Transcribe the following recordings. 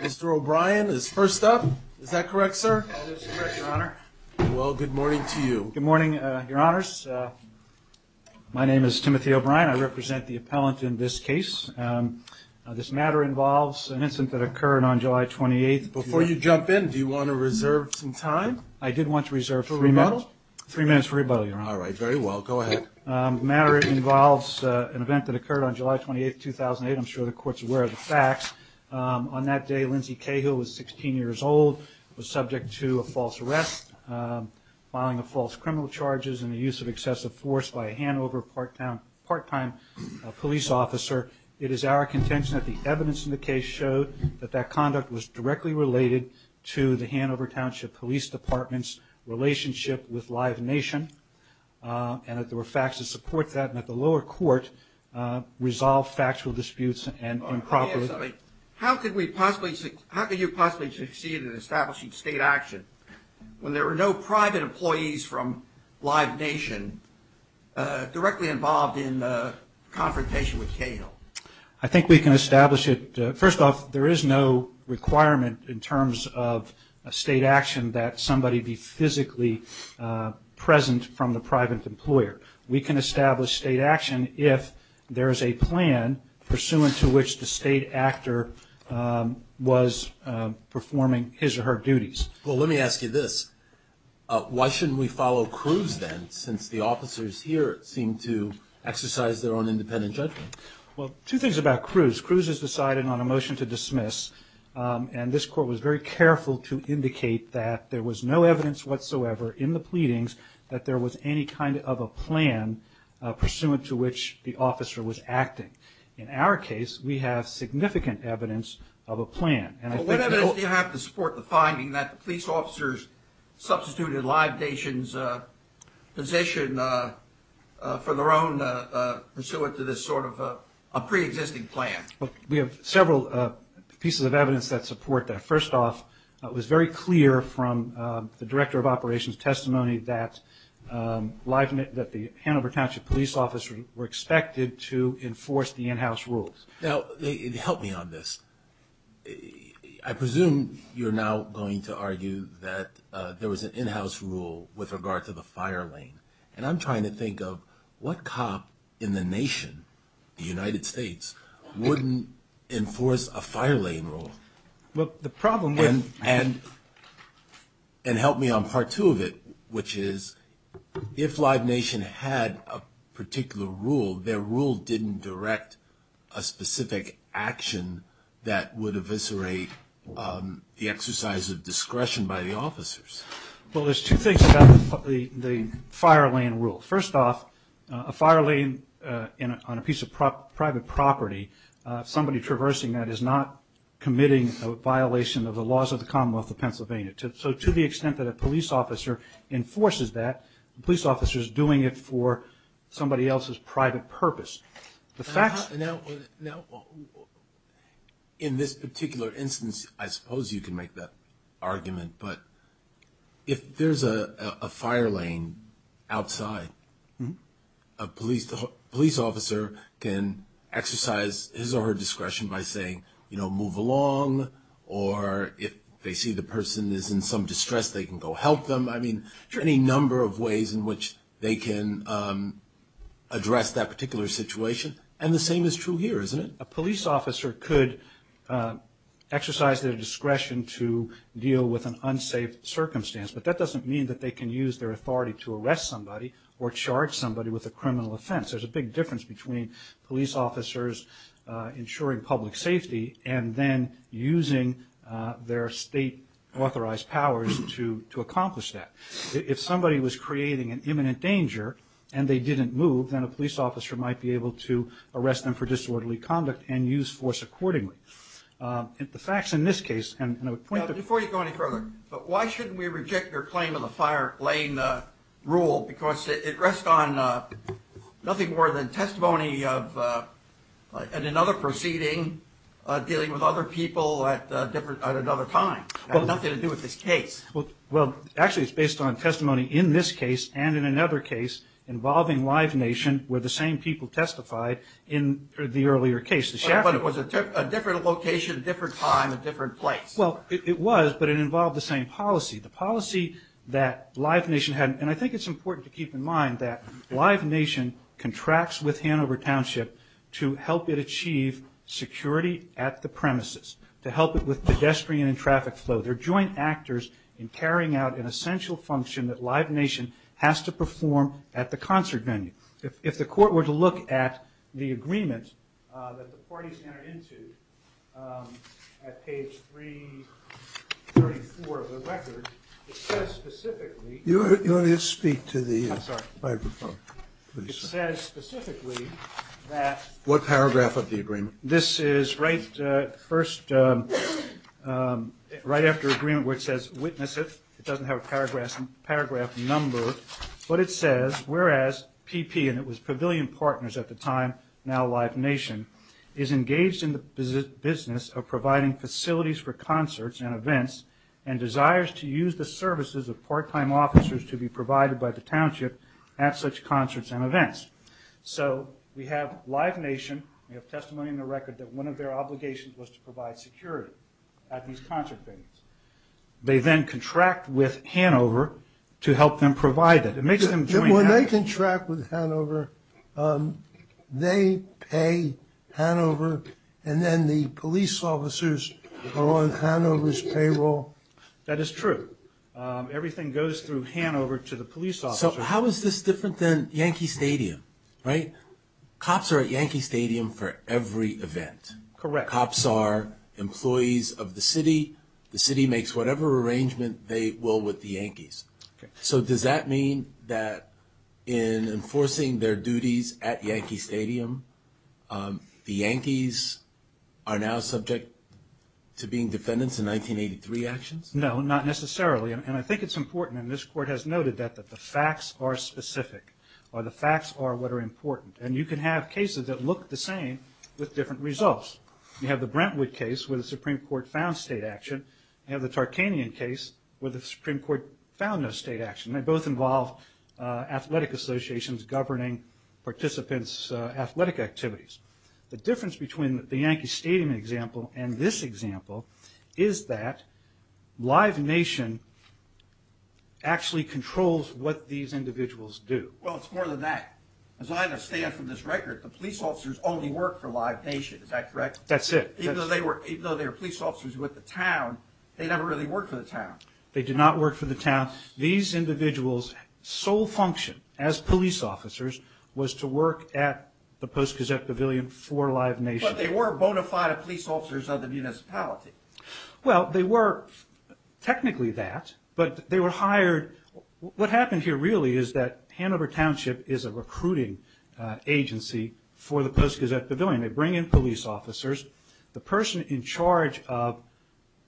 Mr. O'Brien is first up. Is that correct, sir? That is correct, Your Honor. Well, good morning to you. Good morning, Your Honors. My name is Timothy O'Brien. I represent the appellant in this case. This matter involves an incident that occurred on July 28, 2008. Before you jump in, do you want to reserve some time? I did want to reserve three minutes. For rebuttal? Three minutes for rebuttal, Your Honor. All right. Very well. Go ahead. The matter involves an event that occurred on July 28, 2008. I'm sure the Court's aware of the facts. On that day, Lindsey Cahill was 16 years old, was subject to a false arrest, filing of false criminal charges, and the use of excessive force by a Hanover part-time police officer. It is our contention that the evidence in the case showed that that conduct was directly related to the Hanover Township Police Department's relationship with Live Nation and that there were facts to support that and that the lower court resolved factual disputes and improperly. How could you possibly succeed in establishing state action when there were no private employees from Live Nation directly involved in the confrontation with Cahill? I think we can establish it. First off, there is no requirement in terms of state action that somebody be physically present from the private employer. We can establish state action if there is a plan pursuant to which the state actor was performing his or her duties. Well, let me ask you this. Why shouldn't we follow Cruz, then, since the officers here seem to exercise their own independent judgment? Well, two things about Cruz. Cruz has decided on a motion to dismiss, and this court was very careful to indicate that there was no evidence whatsoever in the pleadings that there was any kind of a plan pursuant to which the officer was acting. In our case, we have significant evidence of a plan. Well, what evidence do you have to support the finding that the police officers substituted Live Nation's position for their own pursuant to this sort of a preexisting plan? We have several pieces of evidence that support that. First off, it was very clear from the director of operations' testimony that the Hanover Township police officers were expected to enforce the in-house rules. Now, help me on this. I presume you're now going to argue that there was an in-house rule with regard to the fire lane, and I'm trying to think of what cop in the nation, the United States, wouldn't enforce a fire lane rule. Well, the problem with... And help me on part two of it, which is if Live Nation had a particular rule, their rule didn't direct a specific action that would eviscerate the exercise of discretion by the officers. Well, there's two things about the fire lane rule. First off, a fire lane on a piece of private property, somebody traversing that is not committing a violation of the laws of the Commonwealth of Pennsylvania. So to the extent that a police officer enforces that, the police officer is doing it for somebody else's private purpose. The facts... Now, in this particular instance, I suppose you can make that argument, but if there's a fire lane outside, a police officer can exercise his or her discretion by saying, you know, move along, or if they see the person is in some distress, they can go help them. I mean, any number of ways in which they can address that particular situation. And the same is true here, isn't it? A police officer could exercise their discretion to deal with an unsafe circumstance, but that doesn't mean that they can use their authority to arrest somebody or charge somebody with a criminal offense. There's a big difference between police officers ensuring public safety and then using their state-authorized powers to accomplish that. If somebody was creating an imminent danger and they didn't move, then a police officer might be able to arrest them for disorderly conduct and use force accordingly. The facts in this case... Now, before you go any further, but why shouldn't we reject your claim on the fire lane rule? Because it rests on nothing more than testimony of another proceeding dealing with other people at another time. It has nothing to do with this case. Well, actually it's based on testimony in this case and in another case involving Live Nation where the same people testified in the earlier case. But it was a different location, a different time, a different place. Well, it was, but it involved the same policy. The policy that Live Nation had, and I think it's important to keep in mind, that Live Nation contracts with Hanover Township to help it achieve security at the premises, to help it with pedestrian and traffic flow. They're joint actors in carrying out an essential function that Live Nation has to perform at the concert venue. If the court were to look at the agreement that the parties entered into at page 334 of the record, it says specifically... You want me to speak to the microphone? It says specifically that... What paragraph of the agreement? This is right after agreement where it says, witness it. It doesn't have a paragraph number. But it says, whereas PP, and it was Pavilion Partners at the time, now Live Nation, is engaged in the business of providing facilities for concerts and events and desires to use the services of part-time officers to be provided by the township at such concerts and events. So we have Live Nation, we have testimony in the record that one of their obligations was to provide security at these concert venues. They then contract with Hanover to help them provide it. When they contract with Hanover, they pay Hanover and then the police officers are on Hanover's payroll? That is true. Everything goes through Hanover to the police officers. So how is this different than Yankee Stadium, right? Cops are at Yankee Stadium for every event. Correct. Cops are employees of the city. The city makes whatever arrangement they will with the Yankees. So does that mean that in enforcing their duties at Yankee Stadium, the Yankees are now subject to being defendants in 1983 actions? No, not necessarily. And I think it's important, and this court has noted that, that the facts are specific or the facts are what are important. And you can have cases that look the same with different results. You have the Brentwood case where the Supreme Court found state action. You have the Tarkanian case where the Supreme Court found no state action. They both involve athletic associations governing participants' athletic activities. The difference between the Yankee Stadium example and this example is that Live Nation actually controls what these individuals do. Well, it's more than that. As I understand from this record, the police officers only work for Live Nation. Is that correct? That's it. Even though they were police officers with the town, they never really worked for the town. They did not work for the town. These individuals' sole function as police officers was to work at the Post-Gazette Pavilion for Live Nation. But they were bona fide police officers of the municipality. Well, they were technically that, but they were hired. What happened here really is that Hanover Township is a recruiting agency for the Post-Gazette Pavilion. They bring in police officers. The person in charge of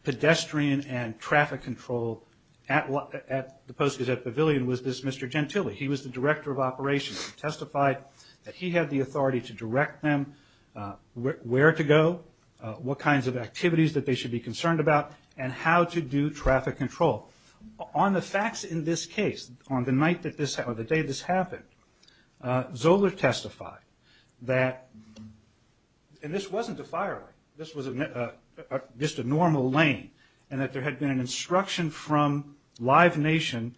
pedestrian and traffic control at the Post-Gazette Pavilion was this Mr. Gentile. He was the director of operations. He testified that he had the authority to direct them where to go, what kinds of activities that they should be concerned about, and how to do traffic control. On the facts in this case, on the night or the day this happened, Zoeller testified that this wasn't a fire lane. This was just a normal lane, and that there had been an instruction from Live Nation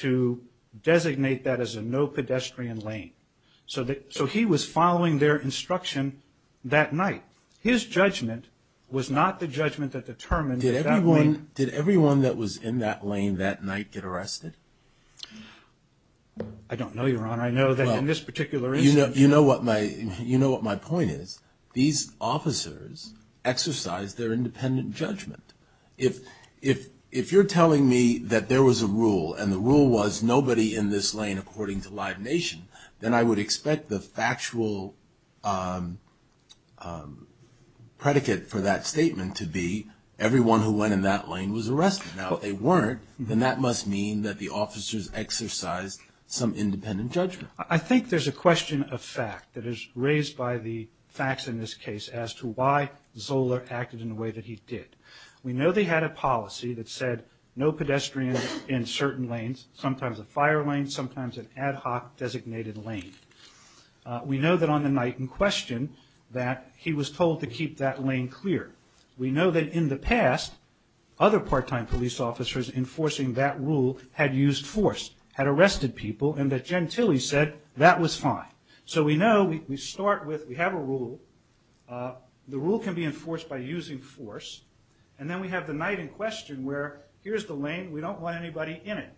to designate that as a no-pedestrian lane. So he was following their instruction that night. His judgment was not the judgment that determined that that lane- Did everyone that was in that lane that night get arrested? I don't know, Your Honor. I know that in this particular instance- You know what my point is. These officers exercised their independent judgment. If you're telling me that there was a rule, and the rule was nobody in this lane according to Live Nation, then I would expect the factual predicate for that statement to be everyone who went in that lane was arrested. Now, if they weren't, then that must mean that the officers exercised some independent judgment. I think there's a question of fact that is raised by the facts in this case as to why Zoeller acted in the way that he did. We know they had a policy that said no pedestrians in certain lanes, sometimes a fire lane, sometimes an ad hoc designated lane. We know that on the night in question that he was told to keep that lane clear. We know that in the past, other part-time police officers enforcing that rule had used force, had arrested people, and that Gentile said that was fine. So we know we start with we have a rule. The rule can be enforced by using force. And then we have the night in question where here's the lane. We don't want anybody in it.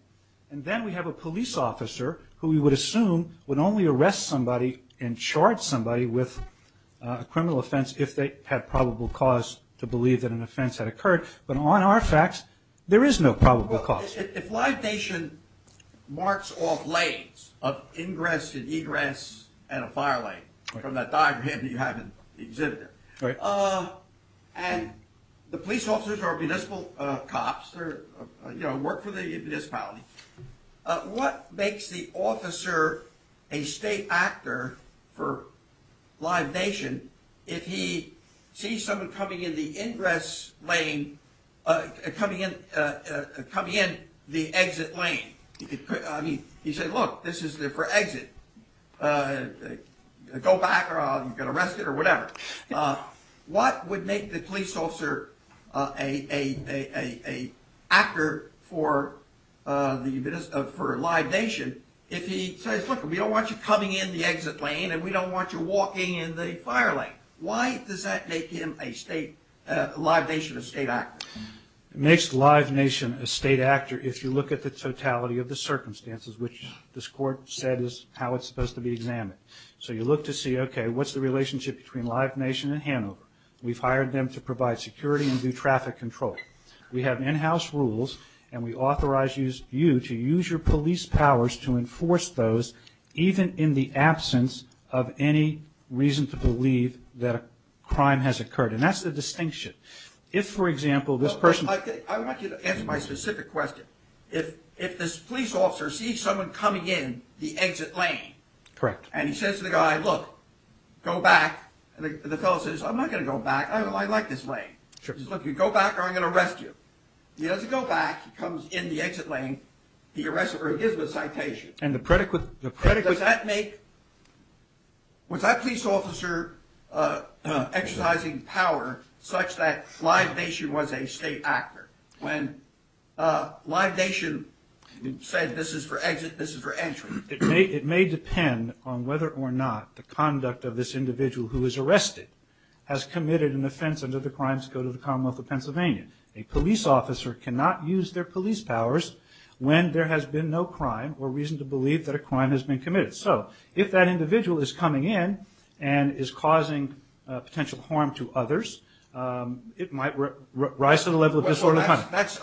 And then we have a police officer who we would assume would only arrest somebody and charge somebody with a criminal offense if they had probable cause to believe that an offense had occurred. But on our facts, there is no probable cause. If Live Nation marks off lanes of ingress and egress and a fire lane from that diagram that you have exhibited, and the police officers are municipal cops, work for the municipality, what makes the officer a state actor for Live Nation if he sees someone coming in the ingress lane, coming in the exit lane? I mean, he said, look, this is for exit. Go back or you'll get arrested or whatever. What would make the police officer an actor for Live Nation if he says, look, we don't want you coming in the exit lane and we don't want you walking in the fire lane? Why does that make him a Live Nation state actor? It makes Live Nation a state actor if you look at the totality of the circumstances, which this court said is how it's supposed to be examined. So you look to see, okay, what's the relationship between Live Nation and Hanover? We've hired them to provide security and do traffic control. We have in-house rules and we authorize you to use your police powers to enforce those even in the absence of any reason to believe that a crime has occurred. And that's the distinction. If, for example, this person... I want you to answer my specific question. If this police officer sees someone coming in the exit lane... He says to the guy, look, go back. And the fellow says, I'm not going to go back. I like this lane. He says, look, you go back or I'm going to arrest you. He doesn't go back. He comes in the exit lane. He arrests him or he gives him a citation. And does that make... Was that police officer exercising power such that Live Nation was a state actor when Live Nation said this is for exit, this is for entry? It may depend on whether or not the conduct of this individual who is arrested has committed an offense under the Crimes Code of the Commonwealth of Pennsylvania. A police officer cannot use their police powers when there has been no crime or reason to believe that a crime has been committed. So if that individual is coming in and is causing potential harm to others, it might rise to the level of disorderly conduct. That's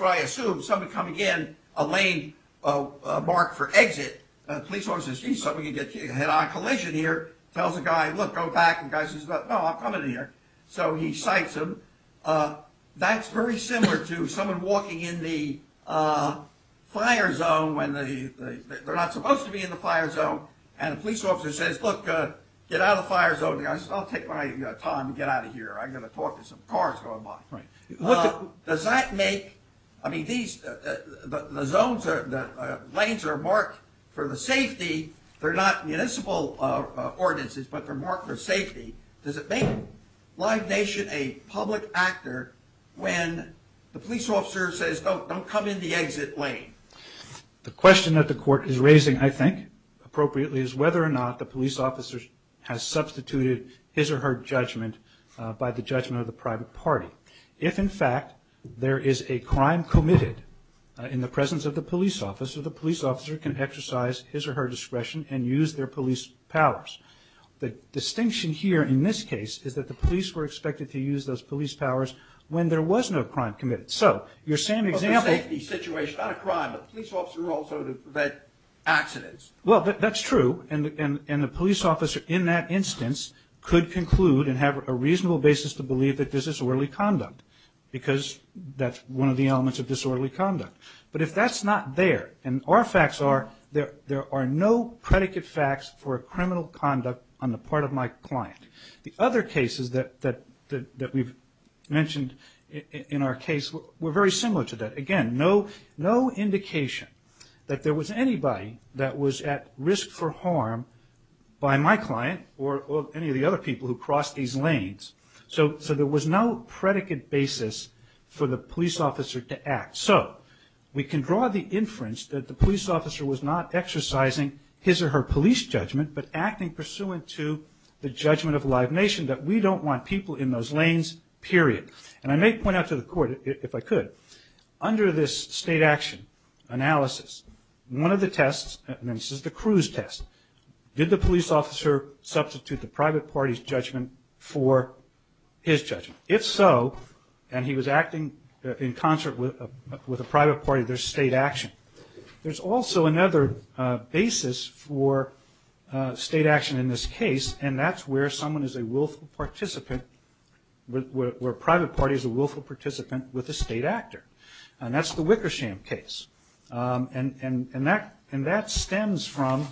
what I assume. Someone coming in a lane marked for exit, a police officer sees someone getting hit on a collision here, tells the guy, look, go back. The guy says, no, I'm coming in here. So he cites him. That's very similar to someone walking in the fire zone when they're not supposed to be in the fire zone. And a police officer says, look, get out of the fire zone. The guy says, I'll take my time to get out of here. I've got to talk to some cars going by. Does that make, I mean, the zones, the lanes are marked for the safety. They're not municipal ordinances, but they're marked for safety. Does it make Live Nation a public actor when the police officer says, don't come in the exit lane? The question that the court is raising, I think, appropriately, is whether or not the police officer has substituted his or her judgment by the judgment of the private party. If, in fact, there is a crime committed in the presence of the police officer, the police officer can exercise his or her discretion and use their police powers. The distinction here in this case is that the police were expected to use those police powers when there was no crime committed. So your same example of a safety situation, not a crime, but a police officer also to prevent accidents. Well, that's true, and the police officer in that instance could conclude and have a reasonable basis to believe that there's disorderly conduct because that's one of the elements of disorderly conduct. But if that's not there, and our facts are there are no predicate facts for a criminal conduct on the part of my client. The other cases that we've mentioned in our case were very similar to that. Again, no indication that there was anybody that was at risk for harm by my client or any of the other people who crossed these lanes. So there was no predicate basis for the police officer to act. So we can draw the inference that the police officer was not exercising his or her police judgment but acting pursuant to the judgment of Live Nation that we don't want people in those lanes, period. And I may point out to the court, if I could, under this state action analysis, one of the tests, and this is the Cruz test, did the police officer substitute the private party's judgment for his judgment? If so, and he was acting in concert with a private party, there's state action. There's also another basis for state action in this case, and that's where someone is a willful participant, where a private party is a willful participant with a state actor. And that's the Wickersham case, and that stems from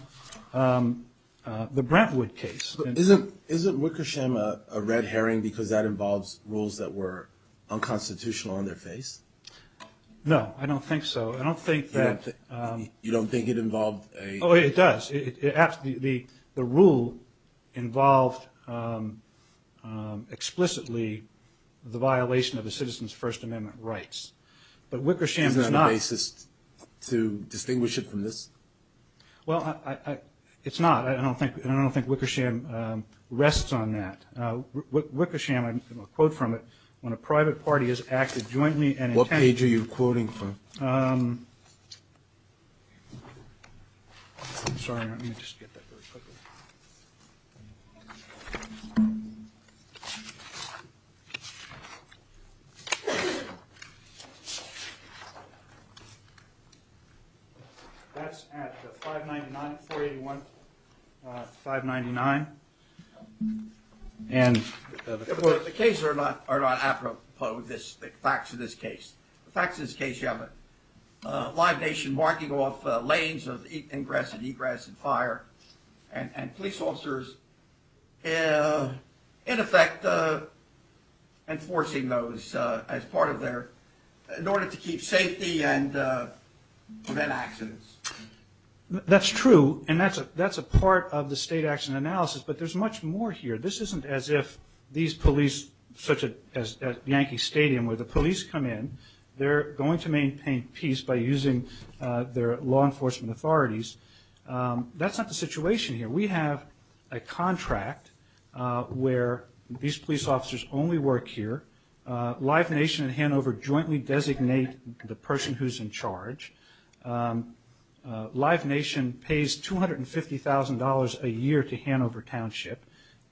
the Brentwood case. Isn't Wickersham a red herring because that involves rules that were unconstitutional on their face? No, I don't think so. I don't think that... You don't think it involved a... Oh, it does. The rule involved explicitly the violation of a citizen's First Amendment rights. But Wickersham does not... Isn't that a basis to distinguish it from this? Well, it's not, and I don't think Wickersham rests on that. Wickersham, and I'll quote from it, when a private party has acted jointly and... What page are you quoting from? I'm sorry, let me just get that really quickly. That's at 599, 481, 599, and... The cases are not apropos, the facts of this case. The facts of this case, you have a live nation marking off lanes of ingress and egress and fire, and police officers, in effect, enforcing those as part of their... in order to keep safety and prevent accidents. That's true, and that's a part of the state action analysis, but there's much more here. This isn't as if these police, such as Yankee Stadium, where the police come in, they're going to maintain peace by using their law enforcement authorities. That's not the situation here. We have a contract where these police officers only work here. Live Nation and Hanover jointly designate the person who's in charge. Live Nation pays $250,000 a year to Hanover Township,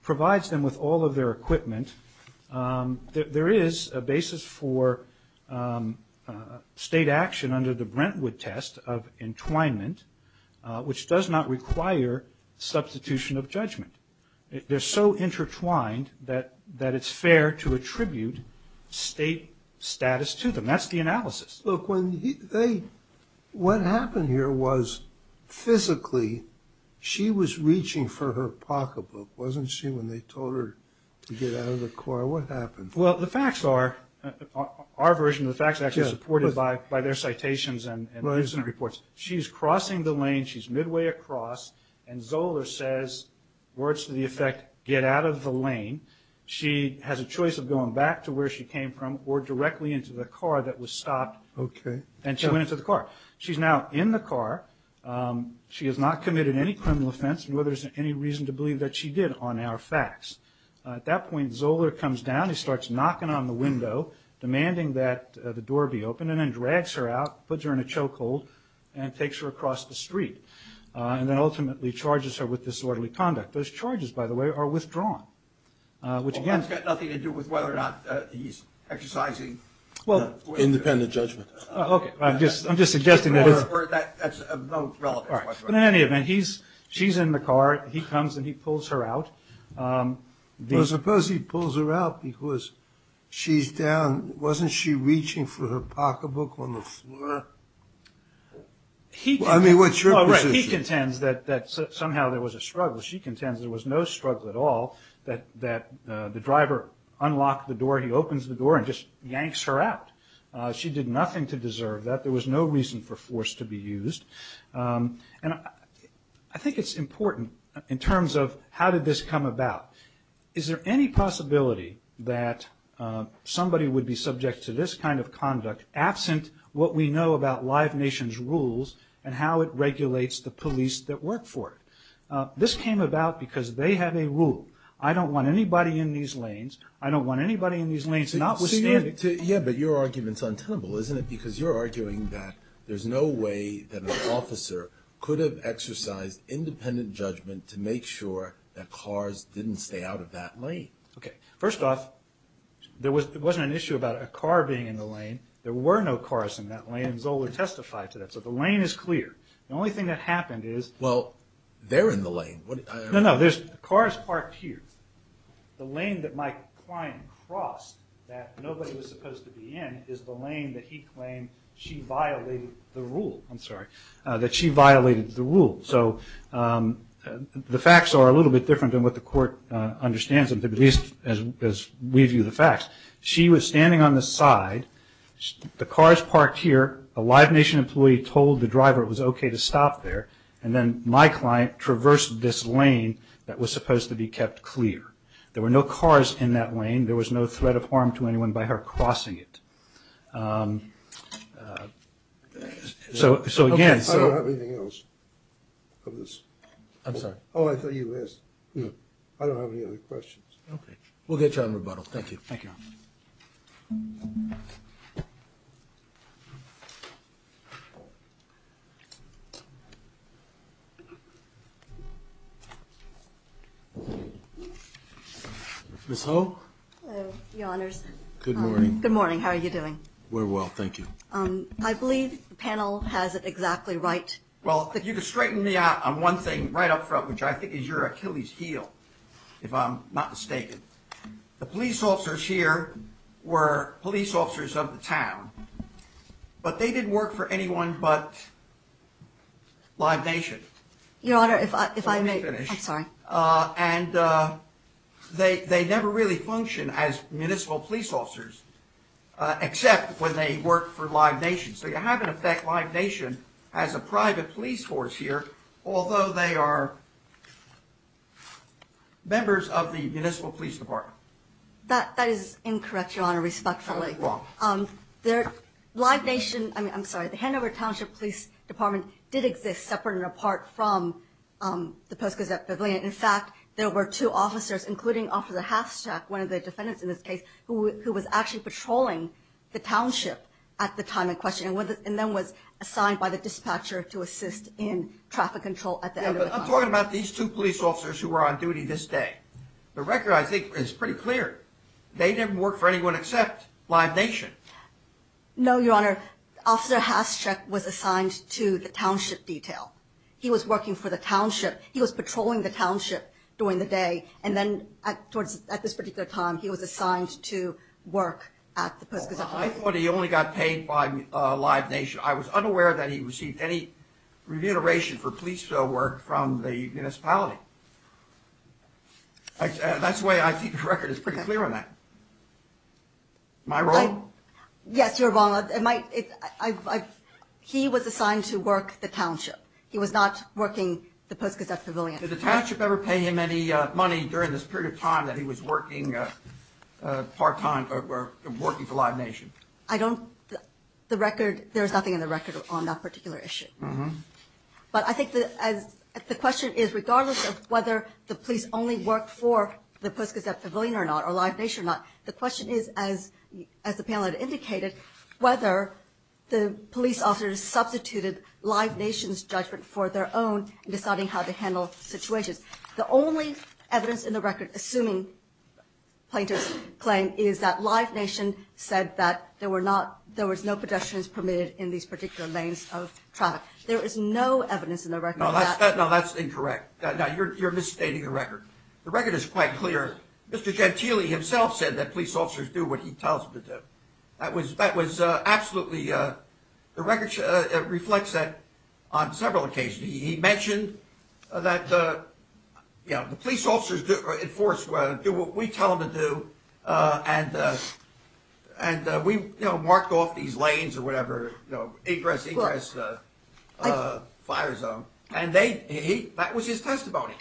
provides them with all of their equipment. There is a basis for state action under the Brentwood test of entwinement, which does not require substitution of judgment. They're so intertwined that it's fair to attribute state status to them. That's the analysis. Look, when they... What happened here was, physically, she was reaching for her pocketbook, wasn't she, when they told her to get out of the car? What happened? Well, the facts are, our version of the facts, actually supported by their citations and incident reports. She's crossing the lane. She's midway across, and Zoeller says, words to the effect, get out of the lane. She has a choice of going back to where she came from or directly into the car that was stopped, and she went into the car. She's now in the car. She has not committed any criminal offense, nor is there any reason to believe that she did, on our facts. At that point, Zoeller comes down. He starts knocking on the window, demanding that the door be opened, and then drags her out, puts her in a chokehold, and takes her across the street, and then ultimately charges her with disorderly conduct. Those charges, by the way, are withdrawn, which, again... That's got nothing to do with whether or not he's exercising... Independent judgment. Okay, I'm just suggesting that it's... That's of no relevance whatsoever. But in any event, she's in the car. He comes and he pulls her out. Well, suppose he pulls her out because she's down. Wasn't she reaching for her pocketbook on the floor? I mean, what's your position? He contends that somehow there was a struggle. She contends there was no struggle at all, that the driver unlocked the door, he opens the door, and just yanks her out. She did nothing to deserve that. There was no reason for force to be used. And I think it's important, in terms of how did this come about. Is there any possibility that somebody would be subject to this kind of conduct, absent what we know about Live Nation's rules and how it regulates the police that work for it? This came about because they have a rule. I don't want anybody in these lanes. I don't want anybody in these lanes not with standing... Yeah, but your argument's untenable, isn't it? Because you're arguing that there's no way that an officer could have exercised independent judgment to make sure that cars didn't stay out of that lane. Okay, first off, there wasn't an issue about a car being in the lane. There were no cars in that lane. Zola testified to that. So the lane is clear. The only thing that happened is... Well, they're in the lane. No, no, the car is parked here. The lane that my client crossed that nobody was supposed to be in is the lane that he claimed she violated the rule. I'm sorry, that she violated the rule. So the facts are a little bit different than what the court understands them to be, at least as we view the facts. She was standing on the side. The car is parked here. A Live Nation employee told the driver it was okay to stop there. And then my client traversed this lane that was supposed to be kept clear. There were no cars in that lane. There was no threat of harm to anyone by her crossing it. So again... I don't have anything else of this. I'm sorry. Oh, I thought you asked. I don't have any other questions. Okay. We'll get you on rebuttal. Thank you. Thank you, Your Honor. Ms. Ho? Hello, Your Honors. Good morning. Good morning. How are you doing? Very well, thank you. I believe the panel has it exactly right. Well, if you could straighten me out on one thing right up front, which I think is your Achilles heel, if I'm not mistaken. The police officers here were police officers of the town. But they didn't work for anyone but Live Nation. Your Honor, if I may... Let me finish. I'm sorry. And they never really functioned as municipal police officers, except when they worked for Live Nation. So you have, in effect, Live Nation as a private police force here, although they are members of the municipal police department. That is incorrect, Your Honor, respectfully. Oh, wrong. Live Nation, I'm sorry, the Hanover Township Police Department did exist separate and apart from the Post-Gazette Pavilion. In fact, there were two officers, including Officer Hashtag, one of the defendants in this case, who was actually patrolling the township at the time in question and then was assigned by the dispatcher to assist in traffic control at the end of the time. I'm talking about these two police officers who are on duty this day. The record, I think, is pretty clear. They didn't work for anyone except Live Nation. No, Your Honor. Officer Hashtag was assigned to the township detail. He was working for the township. He was patrolling the township during the day, and then at this particular time he was assigned to work at the Post-Gazette. I thought he only got paid by Live Nation. I was unaware that he received any remuneration for police work from the municipality. That's why I think the record is pretty clear on that. My wrong? Yes, Your Honor. He was assigned to work the township. He was not working the Post-Gazette Pavilion. Did the township ever pay him any money during this period of time that he was working part-time or working for Live Nation? I don't. The record, there is nothing in the record on that particular issue. But I think the question is, regardless of whether the police only worked for the Post-Gazette Pavilion or not, or Live Nation or not, the question is, as the panel had indicated, whether the police officers substituted Live Nation's judgment for their own in deciding how to handle situations. The only evidence in the record, assuming plaintiff's claim, is that Live Nation said that there was no pedestrians permitted in these particular lanes of traffic. There is no evidence in the record. No, that's incorrect. You're misstating the record. The record is quite clear. Mr. Gentile himself said that police officers do what he tells them to do. That was absolutely, the record reflects that on several occasions. He mentioned that, you know, the police officers in Forest Square do what we tell them to do and we, you know, mark off these lanes or whatever, you know, egress, egress, fire zone. And that was his testimony.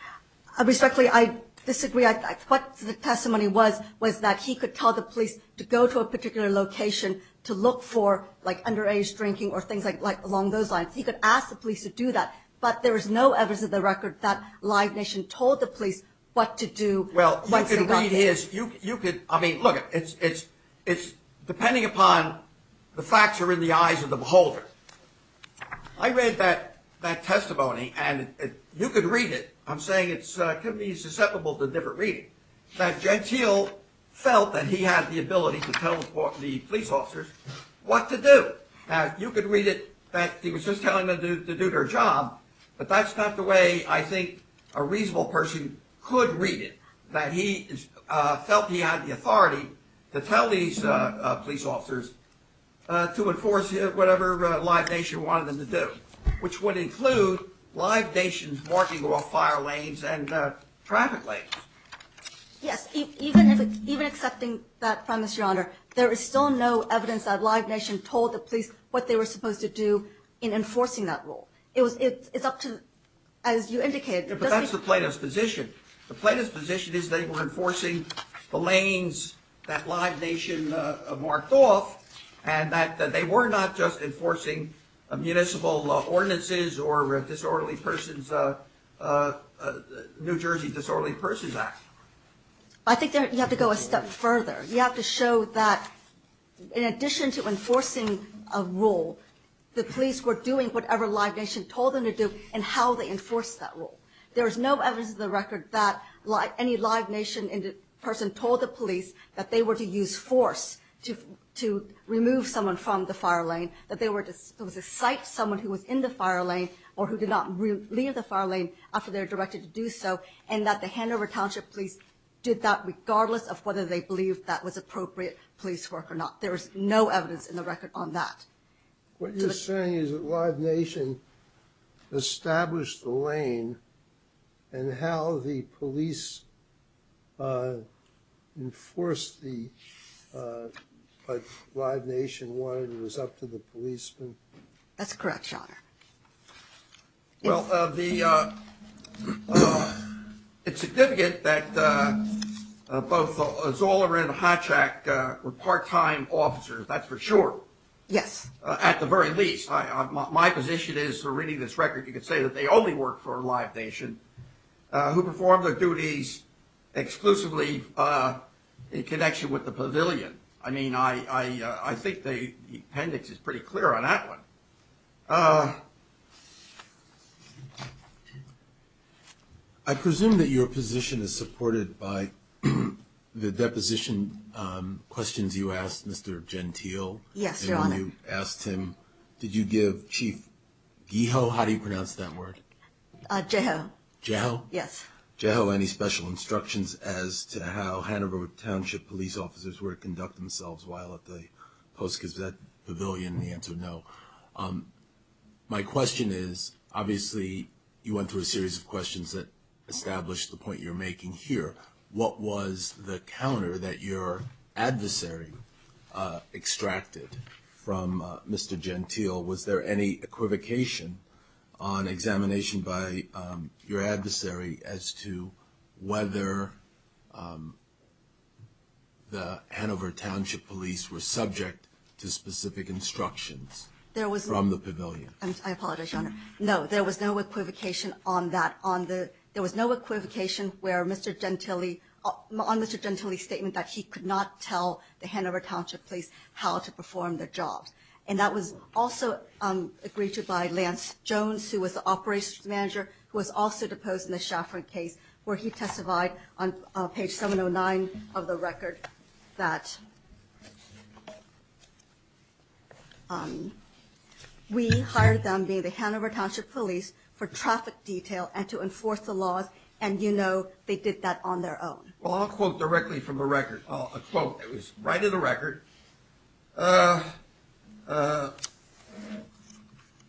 Respectfully, I disagree. What the testimony was was that he could tell the police to go to a particular location to look for, like, underage drinking or things like along those lines. He could ask the police to do that. But there is no evidence in the record that Live Nation told the police what to do once they got there. Well, you could read his, you could, I mean, look, it's depending upon the facts are in the eyes of the beholder. I read that testimony and you could read it. I'm saying it could be susceptible to different reading, that Gentile felt that he had the ability to tell the police officers what to do. You could read it that he was just telling them to do their job, but that's not the way I think a reasonable person could read it, that he felt he had the authority to tell these police officers to enforce whatever Live Nation wanted them to do, which would include Live Nation's marking off fire lanes and traffic lanes. Yes. Even accepting that premise, Your Honor, there is still no evidence that Live Nation told the police what they were supposed to do in enforcing that rule. It's up to, as you indicated. But that's the plaintiff's position. The plaintiff's position is they were enforcing the lanes that Live Nation marked off and that they were not just enforcing municipal ordinances or New Jersey Disorderly Persons Act. I think you have to go a step further. You have to show that in addition to enforcing a rule, the police were doing whatever Live Nation told them to do and how they enforced that rule. There is no evidence in the record that any Live Nation person told the police that they were to use force to remove someone from the fire lane, that they were to cite someone who was in the fire lane or who did not leave the fire lane after they were directed to do so, and that the Hanover Township Police did that regardless of whether they believed that was appropriate police work or not. There is no evidence in the record on that. What you're saying is that Live Nation established the lane and how the police enforced what Live Nation wanted was up to the policeman? That's correct, Your Honor. Well, it's significant that both Zoller and Hotchak were part-time officers, that's for sure. Yes. At the very least. My position is, reading this record, you could say that they only worked for Live Nation, who performed their duties exclusively in connection with the pavilion. I mean, I think the appendix is pretty clear on that one. I presume that your position is supported by the deposition questions you asked Mr. Gentile. Yes, Your Honor. And when you asked him, did you give Chief Geho, how do you pronounce that word? Geho. Geho? Yes. Geho any special instructions as to how Hanover Township Police officers were to conduct themselves while at the Post-Gazette Pavilion? The answer, no. My question is, obviously you went through a series of questions that established the point you're making here. What was the counter that your adversary extracted from Mr. Gentile? Was there any equivocation on examination by your adversary as to whether the Hanover Township Police were subject to specific instructions from the pavilion? I apologize, Your Honor. No, there was no equivocation on that. There was no equivocation on Mr. Gentile's statement that he could not tell the Hanover Township Police how to perform their jobs. And that was also agreed to by Lance Jones, who was the operations manager, who was also deposed in the Schaffer case, where he testified on page 709 of the record that we hired them, being the Hanover Township Police, for traffic detail and to enforce the laws, and you know they did that on their own. Well, I'll quote directly from a record. I'll quote. It was right in the record,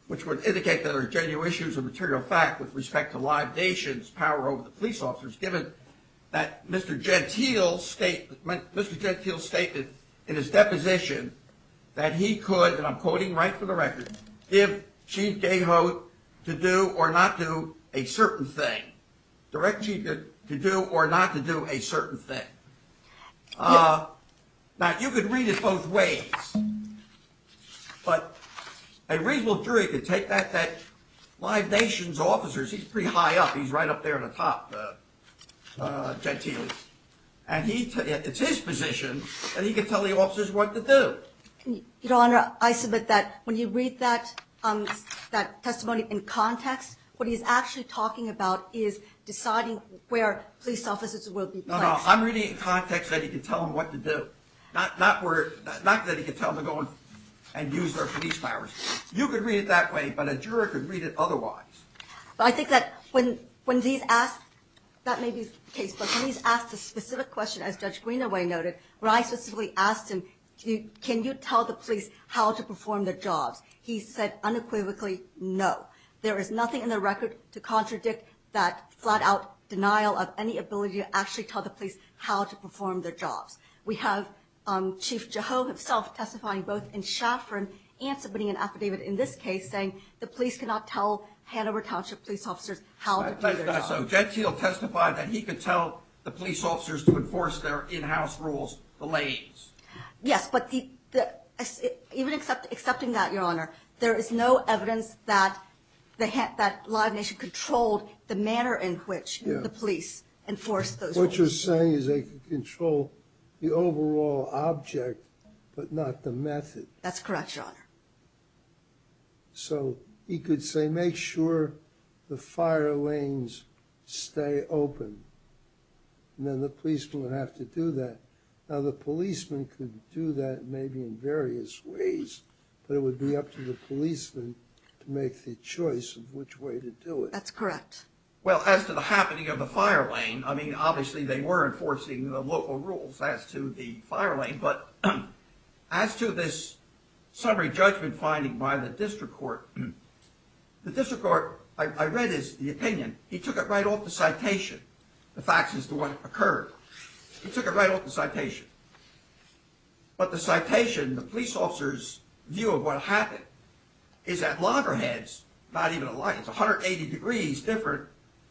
which would indicate that there are genuine issues of material fact with respect to libations, power over the police officers, given that Mr. Gentile's statement in his deposition that he could, and I'm quoting right from the record, give Chief Gayhoe to do or not do a certain thing. Direct Chief to do or not to do a certain thing. Now, you could read it both ways, but a reasonable jury could take that libation's officers. He's pretty high up. He's right up there at the top, Gentile. And it's his position that he could tell the officers what to do. Your Honor, I submit that when you read that testimony in context, what he's actually talking about is deciding where police officers will be placed. No, no, I'm reading it in context that he could tell them what to do, not that he could tell them to go and use their police powers. You could read it that way, but a juror could read it otherwise. I think that when he's asked a specific question, as Judge Greenaway noted, when I specifically asked him, can you tell the police how to perform their jobs, he said unequivocally, no. There is nothing in the record to contradict that flat-out denial of any ability to actually tell the police how to perform their jobs. We have Chief Jeho himself testifying both in Shafrin and submitting an affidavit in this case saying the police cannot tell Hanover Township police officers how to do their job. So Gentile testified that he could tell the police officers to enforce their in-house rules, the lanes. Yes, but even accepting that, Your Honor, there is no evidence that Live Nation controlled the manner in which the police enforced those rules. What you're saying is they could control the overall object, but not the method. That's correct, Your Honor. So he could say, make sure the fire lanes stay open, and then the policeman would have to do that. Now the policeman could do that maybe in various ways, but it would be up to the policeman to make the choice of which way to do it. That's correct. Well, as to the happening of the fire lane, I mean, obviously they were enforcing the local rules as to the fire lane, but as to this summary judgment finding by the district court, the district court, I read his opinion. He took it right off the citation, the facts as to what occurred. He took it right off the citation. But the citation, the police officer's view of what happened, is that loggerheads, not even a lie, it's 180 degrees different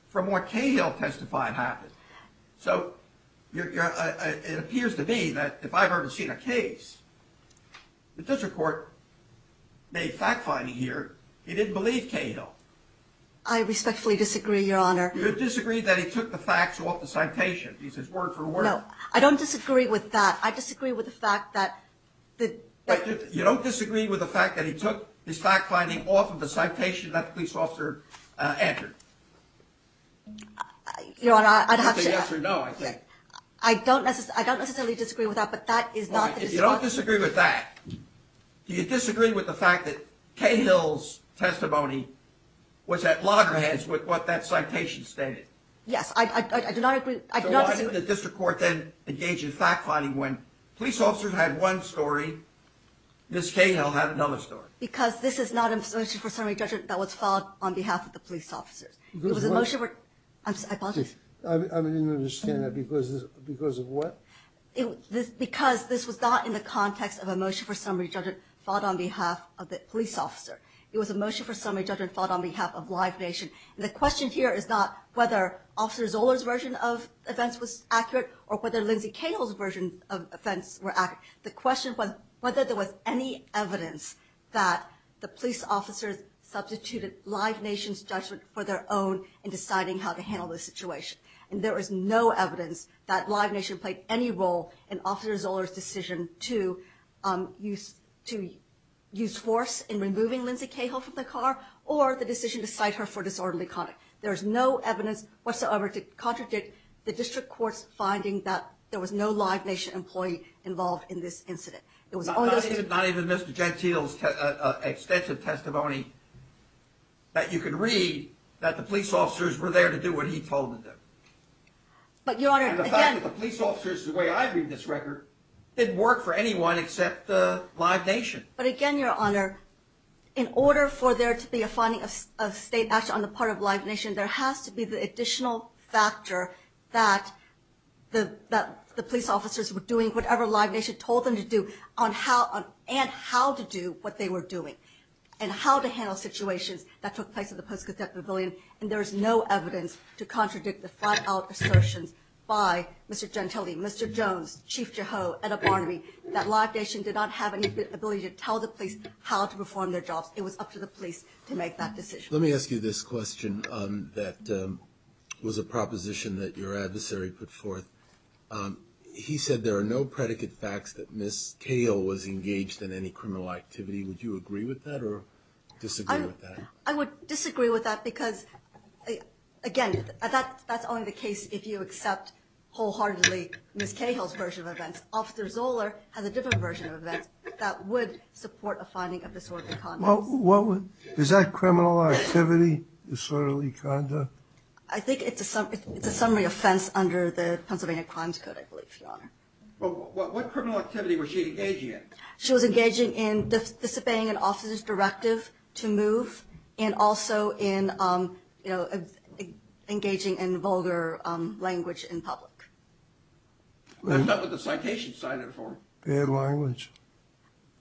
from what Cahill testified happened. So it appears to me that if I've ever seen a case, the district court made fact-finding here. He didn't believe Cahill. I respectfully disagree, Your Honor. You disagree that he took the facts off the citation. He says word for word. No, I don't disagree with that. I disagree with the fact that the… You don't disagree with the fact that he took his fact-finding off of the citation that the police officer entered? Your Honor, I'd have to… It's a yes or no, I think. I don't necessarily disagree with that, but that is not… If you don't disagree with that, do you disagree with the fact that Cahill's testimony was at loggerheads with what that citation stated? Yes, I do not agree. So why did the district court then engage in fact-finding when police officers had one story, Ms. Cahill had another story? Because this is not a motion for summary judgment that was filed on behalf of the police officers. It was a motion for… I'm sorry, I apologize. I didn't understand that. Because of what? Because this was not in the context of a motion for summary judgment filed on behalf of the police officer. It was a motion for summary judgment filed on behalf of Live Nation. The question here is not whether Officer Zoller's version of events was accurate or whether Lindsay Cahill's version of events were accurate. The question was whether there was any evidence that the police officers substituted Live Nation's judgment for their own in deciding how to handle the situation. And there is no evidence that Live Nation played any role in Officer Zoller's decision to use force in removing Lindsay Cahill from the car or the decision to cite her for disorderly conduct. There is no evidence whatsoever to contradict the district court's finding that there was no Live Nation employee involved in this incident. Not even Mr. Gentile's extensive testimony that you could read that the police officers were there to do what he told them to do. But Your Honor, again… And the fact that the police officers, the way I read this record, didn't work for anyone except Live Nation. But again, Your Honor, in order for there to be a finding of state action on the part of Live Nation, there has to be the additional factor that the police officers were doing whatever Live Nation told them to do and how to do what they were doing and how to handle situations that took place at the Post-Codeption Pavilion. And there is no evidence to contradict the flat-out assertions by Mr. Gentile, Mr. Jones, Chief Jeho, Ed O'Barnaby, that Live Nation did not have any ability to tell the police how to perform their jobs. It was up to the police to make that decision. Let me ask you this question that was a proposition that your adversary put forth. He said there are no predicate facts that Ms. Cahill was engaged in any criminal activity. Would you agree with that or disagree with that? I would disagree with that because, again, that's only the case if you accept wholeheartedly Ms. Cahill's version of events. Officer Zoeller has a different version of events that would support a finding of this sort of conduct. Is that criminal activity disorderly conduct? I think it's a summary offense under the Pennsylvania Crimes Code, I believe, Your Honor. What criminal activity was she engaging in? She was engaging in disobeying an officer's directive to move and also engaging in vulgar language in public. That's not what the citation cited for. Bad language.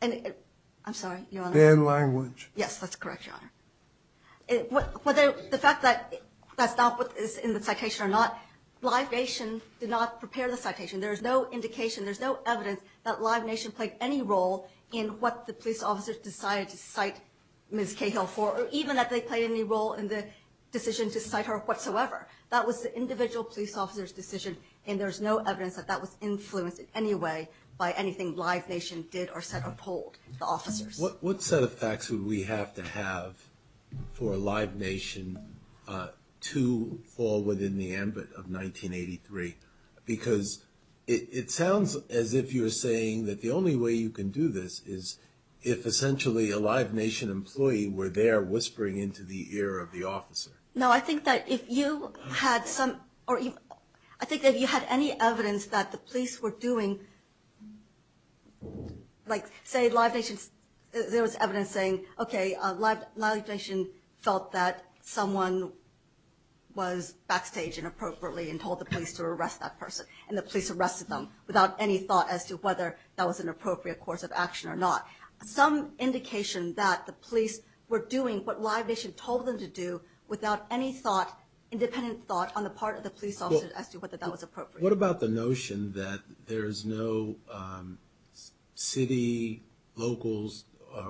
I'm sorry, Your Honor. Bad language. Yes, that's correct, Your Honor. Whether the fact that that's not what is in the citation or not, Live Nation did not prepare the citation. There is no indication, there's no evidence that Live Nation played any role in what the police officers decided to cite Ms. Cahill for or even that they played any role in the decision to cite her whatsoever. That was the individual police officer's decision, and there's no evidence that that was influenced in any way by anything Live Nation did or said or told the officers. What set of facts would we have to have for a Live Nation to fall within the ambit of 1983? Because it sounds as if you're saying that the only way you can do this is if essentially a Live Nation employee were there whispering into the ear of the officer. No, I think that if you had any evidence that the police were doing, like say Live Nation, there was evidence saying, okay, Live Nation felt that someone was backstage inappropriately and told the police to arrest that person, and the police arrested them without any thought as to whether that was an appropriate course of action or not. Some indication that the police were doing what Live Nation told them to do without any independent thought on the part of the police officer as to whether that was appropriate. What about the notion that there's no city, locals,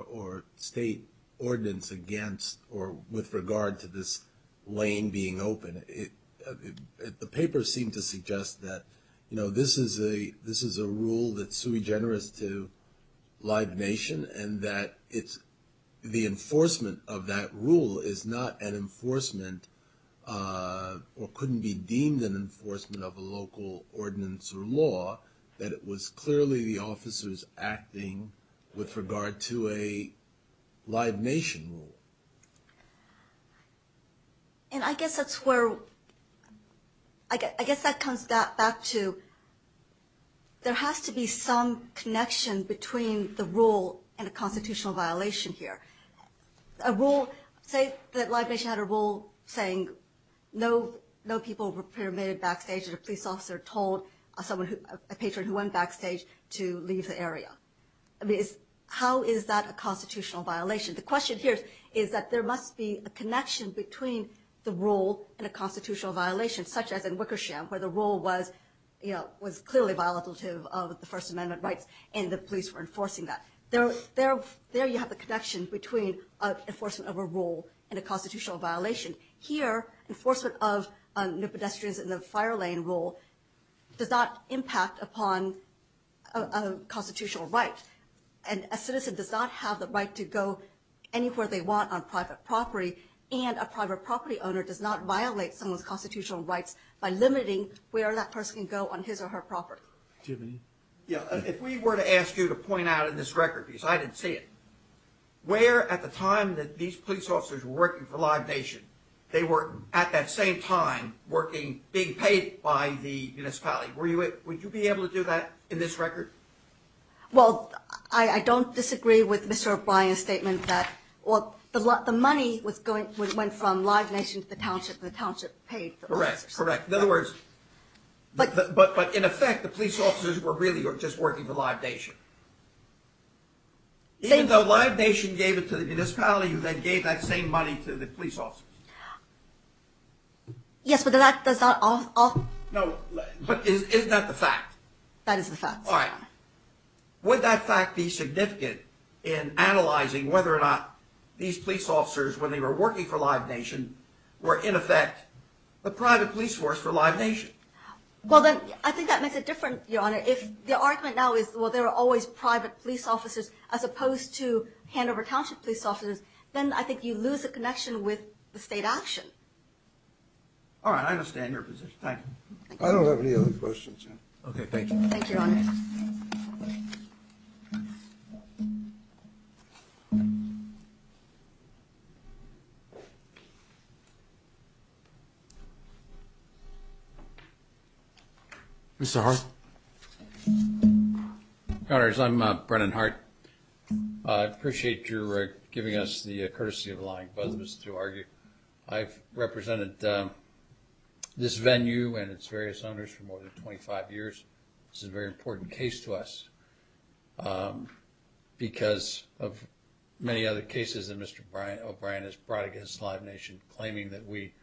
or state ordinance against or with regard to this lane being open? The paper seemed to suggest that this is a rule that's sui generis to Live Nation and that the enforcement of that rule is not an enforcement or couldn't be deemed an enforcement of a local ordinance or law, that it was clearly the officers acting with regard to a Live Nation rule. And I guess that's where, I guess that comes back to, there has to be some connection between the rule and a constitutional violation here. Say that Live Nation had a rule saying no people were permitted backstage and a police officer told a patron who went backstage to leave the area. How is that a constitutional violation? The question here is that there must be a connection between the rule and a constitutional violation, such as in Wickersham, where the rule was clearly violative of the First Amendment rights and the police were enforcing that. There you have the connection between enforcement of a rule and a constitutional violation. Here, enforcement of no pedestrians in the fire lane rule does not impact upon a constitutional right, and a citizen does not have the right to go anywhere they want on private property, and a private property owner does not violate someone's constitutional rights by limiting where that person can go on his or her property. Yeah, if we were to ask you to point out in this record, because I didn't see it, where at the time that these police officers were working for Live Nation, they were at that same time working, being paid by the municipality. Would you be able to do that in this record? Well, I don't disagree with Mr. O'Brien's statement that the money went from Live Nation to the township, and the township paid the officers. Correct. In other words, but in effect, the police officers were really just working for Live Nation. Even though Live Nation gave it to the municipality, you then gave that same money to the police officers. Yes, but that does not all... No, but is that the fact? That is the fact. All right. Would that fact be significant in analyzing whether or not these police officers, when they were working for Live Nation, were in effect a private police force for Live Nation? Well, then I think that makes it different, Your Honor. If the argument now is, well, there are always private police officers as opposed to handover township police officers, then I think you lose the connection with the state action. All right, I understand your position. Thank you. I don't have any other questions. Okay, thank you. Thank you, Your Honor. Mr. Hart. Connors, I'm Brennan Hart. I appreciate your giving us the courtesy of allowing both of us to argue. I've represented this venue and its various owners for more than 25 years. This is a very important case to us because of many other cases that Mr. O'Brien has brought against Live Nation. And claiming that we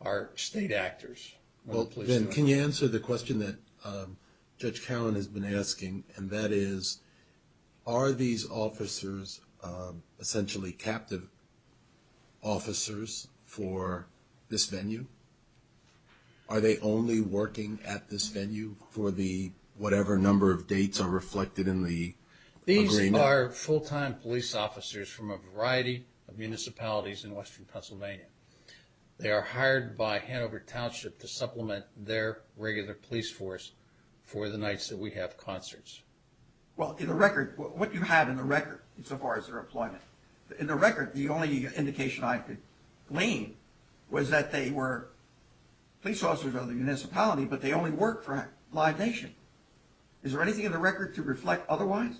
are state actors. Well, Ben, can you answer the question that Judge Cowan has been asking? And that is, are these officers essentially captive officers for this venue? Are they only working at this venue for the whatever number of dates are reflected in the agreement? These are full-time police officers from a variety of municipalities in western Pennsylvania. They are hired by Hanover Township to supplement their regular police force for the nights that we have concerts. Well, in the record, what do you have in the record so far as their employment? In the record, the only indication I could glean was that they were police officers of the municipality, but they only work for Live Nation. Is there anything in the record to reflect otherwise?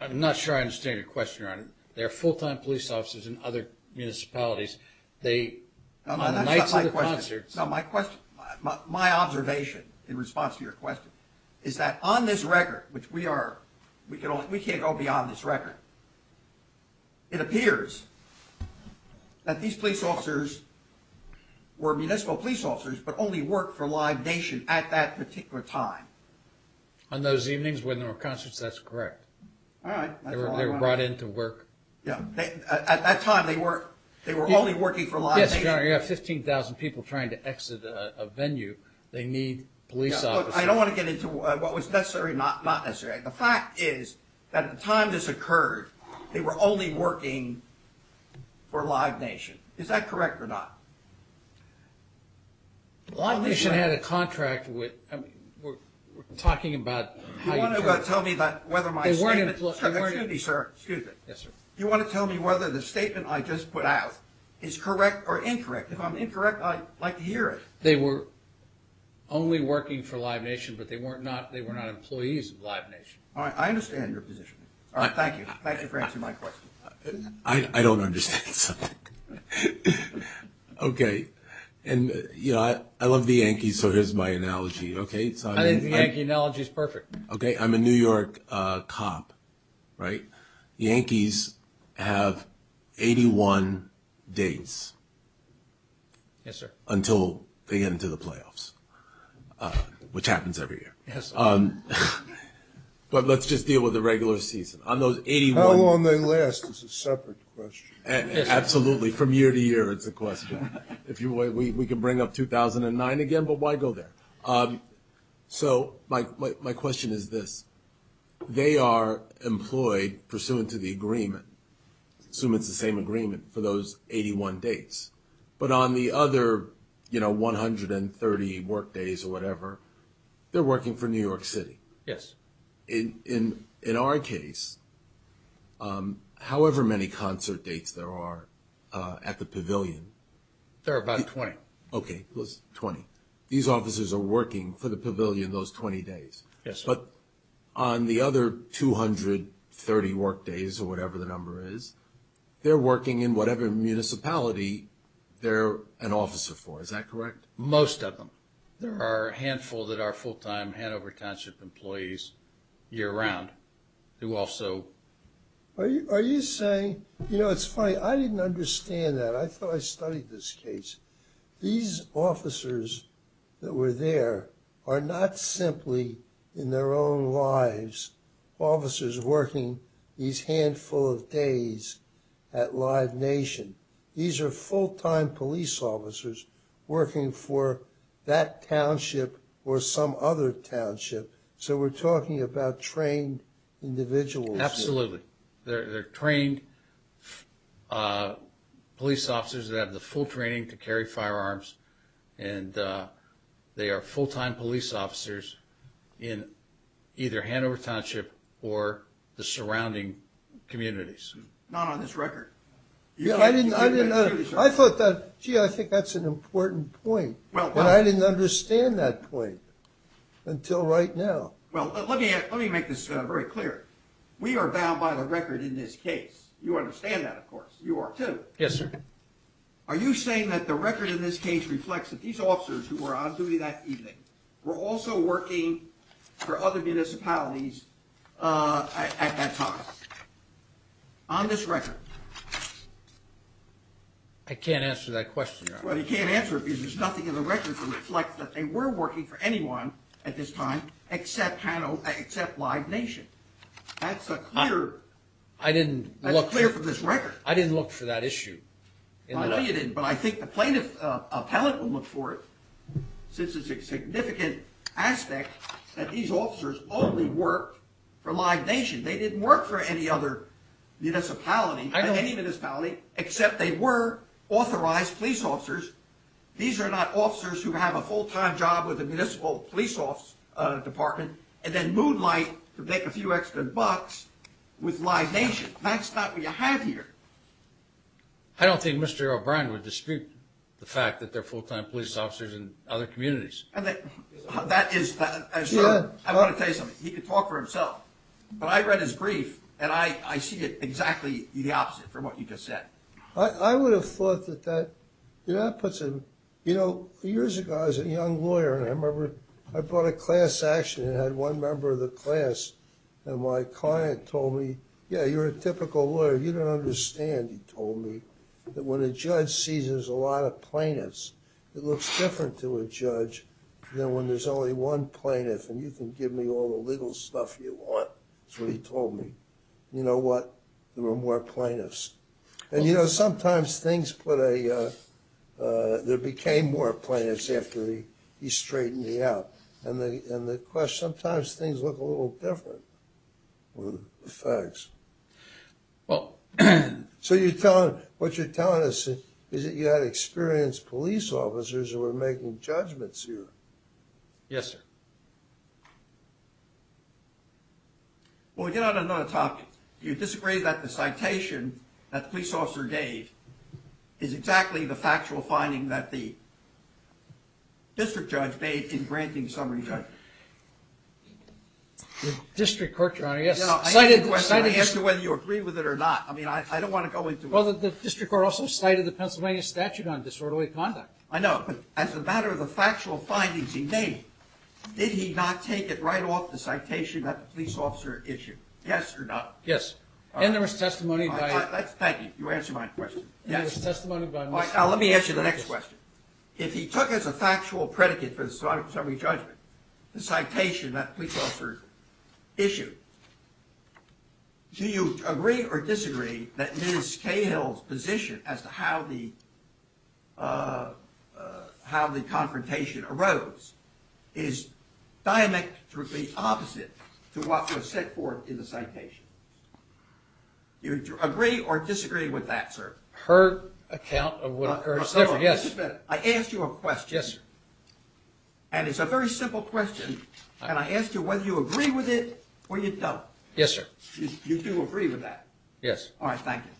I'm not sure I understand your question, Your Honor. They are full-time police officers in other municipalities. On the nights of the concerts... No, my observation in response to your question is that on this record, which we can't go beyond this record, it appears that these police officers were municipal police officers but only worked for Live Nation at that particular time. On those evenings when there were concerts, that's correct. All right. They were brought in to work. At that time, they were only working for Live Nation. Yes, Your Honor, you have 15,000 people trying to exit a venue. They need police officers. I don't want to get into what was necessary and not necessary. The fact is that at the time this occurred, they were only working for Live Nation. Is that correct or not? Live Nation had a contract with... We're talking about how you... You want to tell me whether my statement... Excuse me, sir. You want to tell me whether the statement I just put out is correct or incorrect? If I'm incorrect, I'd like to hear it. They were only working for Live Nation, but they were not employees of Live Nation. I understand your position. Thank you. Thank you for answering my question. I don't understand something. Okay. I love the Yankees, so here's my analogy. I think the Yankee analogy is perfect. I'm a New York cop, right? The Yankees have 81 dates... Yes, sir. ...until they get into the playoffs, which happens every year. Yes, sir. But let's just deal with the regular season. On those 81... How long they last is a separate question. Absolutely. From year to year, it's a question. We can bring up 2009 again, but why go there? So my question is this. They are employed pursuant to the agreement, assuming it's the same agreement, for those 81 dates. But on the other 130 workdays or whatever, they're working for New York City. Yes. In our case, however many concert dates there are at the Pavilion... There are about 20. Okay, plus 20. These officers are working for the Pavilion those 20 days. Yes, sir. But on the other 230 workdays or whatever the number is, they're working in whatever municipality they're an officer for. Is that correct? Most of them. There are a handful that are full-time Hanover Township employees year-round who also... Are you saying... You know, it's funny. I didn't understand that. I thought I studied this case. These officers that were there are not simply in their own lives officers working these handful of days at Live Nation. These are full-time police officers working for that township or some other township. So we're talking about trained individuals. Absolutely. They're trained police officers that have the full training to carry firearms and they are full-time police officers in either Hanover Township or the surrounding communities. Not on this record. Yeah, I didn't... I thought that... Gee, I think that's an important point. But I didn't understand that point until right now. Well, let me make this very clear. We are bound by the record in this case. You understand that, of course. You are too. Yes, sir. Are you saying that the record in this case reflects that these officers who were on duty that evening were also working for other municipalities at that time? On this record? I can't answer that question, Your Honor. Well, you can't answer it because there's nothing in the record that reflects that they were working for anyone at this time except Live Nation. That's a clear... I didn't look... That's clear from this record. I didn't look for that issue. I know you didn't, but I think the plaintiff appellate will look for it since it's a significant aspect that these officers only worked for Live Nation. They didn't work for any other municipality, any municipality, except they were authorized police officers. These are not officers who have a full-time job with the municipal police department and then moonlight to make a few extra bucks with Live Nation. That's not what you have here. I don't think Mr. O'Brien would dispute the fact that they're full-time police officers in other communities. That is... I want to tell you something. He can talk for himself, but I read his brief, and I see it exactly the opposite from what you just said. I would have thought that that... You know, years ago, I was a young lawyer, and I remember I brought a class action and had one member of the class and my client told me, yeah, you're a typical lawyer. You don't understand, he told me, that when a judge seizes a lot of plaintiffs, it looks different to a judge than when there's only one plaintiff and you can give me all the legal stuff you want. That's what he told me. You know what? There were more plaintiffs. And, you know, sometimes things put a... There became more plaintiffs after he straightened me out. And the question... Sometimes things look a little different with the facts. Well... So you're telling... What you're telling us is that you had experienced police officers who were making judgments here. Yes, sir. Well, we get on another topic. Do you disagree that the citation that the police officer gave is exactly the factual finding that the district judge made in granting summary judgment? The district court, Your Honor, yes. Cited... I asked you whether you agree with it or not. I don't want to go into... Well, the district court also cited the Pennsylvania statute on disorderly conduct. I know, but as a matter of the factual findings he made, did he not take it right off the citation that the police officer issued? Yes or no? Yes. And there was testimony by... Thank you. You answered my question. And there was testimony by... Let me ask you the next question. If he took as a factual predicate for the summary judgment the citation that the police officer issued, do you agree or disagree that Ms. Cahill's position as to how the... how the confrontation arose is diametrically opposite to what was set forth in the citation? Do you agree or disagree with that, sir? Per account of what occurs there, yes. Mr. Smith, I asked you a question. Yes, sir. And it's a very simple question, and I asked you whether you agree with it or you don't. Yes, sir. You do agree with that? Yes. All right, thank you.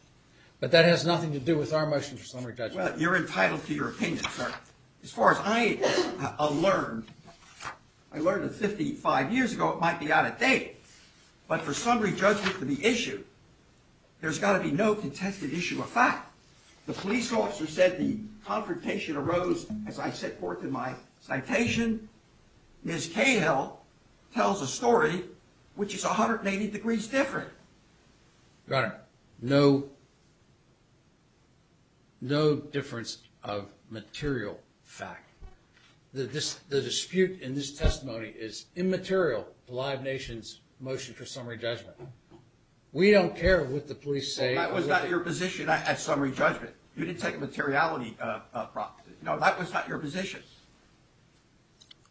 But that has nothing to do with our motion for summary judgment. Well, you're entitled to your opinion, sir. As far as I learned, I learned that 55 years ago it might be out of date, but for summary judgment to be issued, there's got to be no contested issue of fact. The police officer said the confrontation arose as I set forth in my citation. Ms. Cahill tells a story which is 180 degrees different. Your Honor, no... no difference of material fact. The dispute in this testimony is immaterial to Live Nation's motion for summary judgment. We don't care what the police say... That was not your position at summary judgment. You didn't take a materiality proposition. No, that was not your position.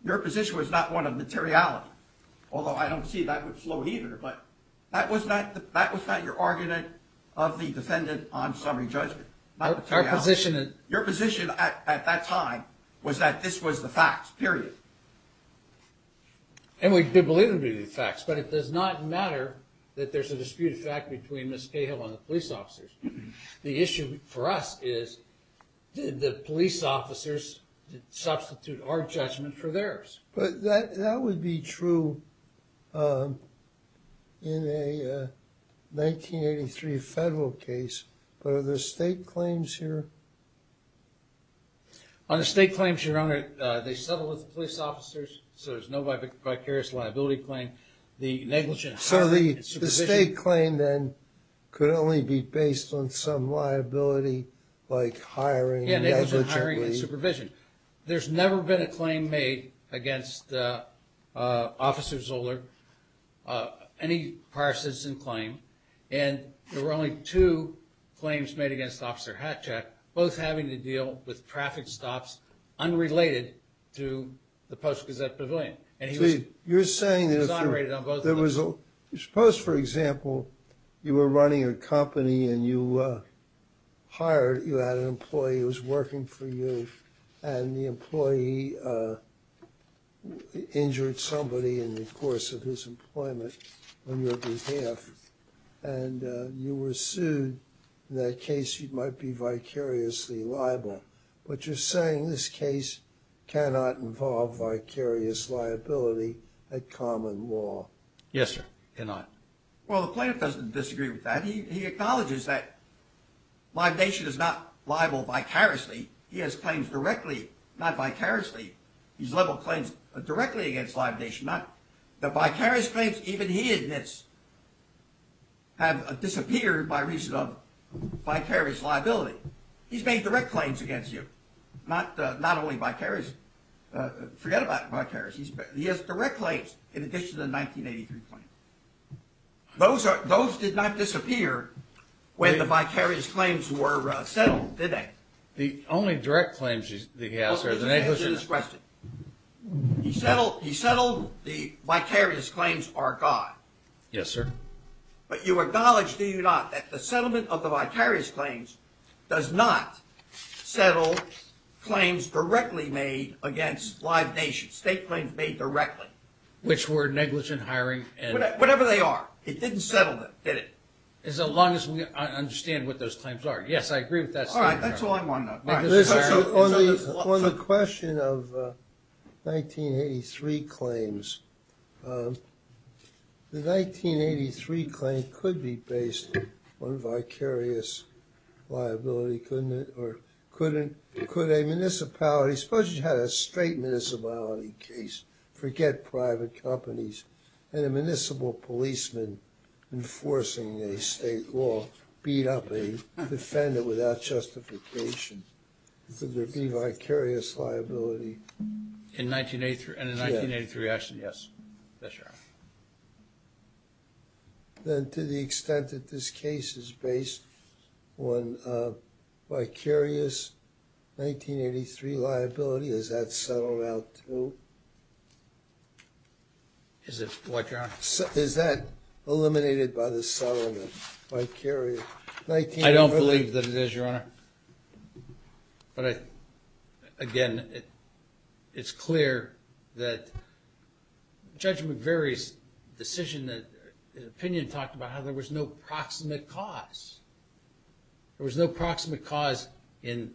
Your position was not one of materiality, although I don't see that with slow heater, but that was not your argument of the defendant on summary judgment. Not materiality. Your position at that time was that this was the facts, period. And we did believe it would be the facts, but it does not matter that there's a disputed fact between Ms. Cahill and the police officers. The issue for us is did the police officers substitute our judgment for theirs? But that would be true in a 1983 federal case, but are there state claims here? On the state claims, Your Honor, they settled with the police officers, so there's no vicarious liability claim. The negligent... So the state claim, then, could only be based on some liability, like hiring negligently... Yeah, it was hiring and supervision. There's never been a claim made against Officer Zoller, any prior citizen claim, and there were only two claims made against Officer Hatchack, both having to deal with traffic stops unrelated to the Post-Gazette Pavilion. You're saying... Suppose, for example, you were running a company and you had an employee who was working for you, and the employee injured somebody in the course of his employment on your behalf, and you were sued. In that case, you might be vicariously liable. But you're saying this case cannot involve vicarious liability at common law. Yes, sir, it cannot. Well, the plaintiff doesn't disagree with that. He acknowledges that Live Nation is not liable vicariously. He has claims directly, not vicariously. He's leveled claims directly against Live Nation. The vicarious claims, even he admits, have disappeared by reason of vicarious liability. He's made direct claims against you. Not only vicarious... Forget about vicarious. He has direct claims in addition to the 1983 claims. Those did not disappear when the vicarious claims were settled, did they? The only direct claims he has... Well, let me answer this question. He settled the vicarious claims are gone. Yes, sir. But you acknowledge, do you not, that the settlement of the vicarious claims does not settle claims directly made against Live Nation. State claims made directly. Which were negligent hiring and... Whatever they are. It didn't settle them, did it? As long as we understand what those claims are. Yes, I agree with that statement. All right, that's all I want to know. On the question of 1983 claims, the 1983 claim could be based on vicarious liability, couldn't it? Could a municipality... Forget private companies. And a municipal policeman enforcing a state law beat up a defendant without justification. Could there be vicarious liability? In 1983, actually, yes. Then to the extent that this case is based on vicarious 1983 liability, is that settled out too? Is it what, Your Honor? Is that eliminated by the settlement, vicarious 1983? I don't believe that it is, Your Honor. But again, it's clear that Judge McVeary's decision, opinion talked about how there was no proximate cause. There was no proximate cause in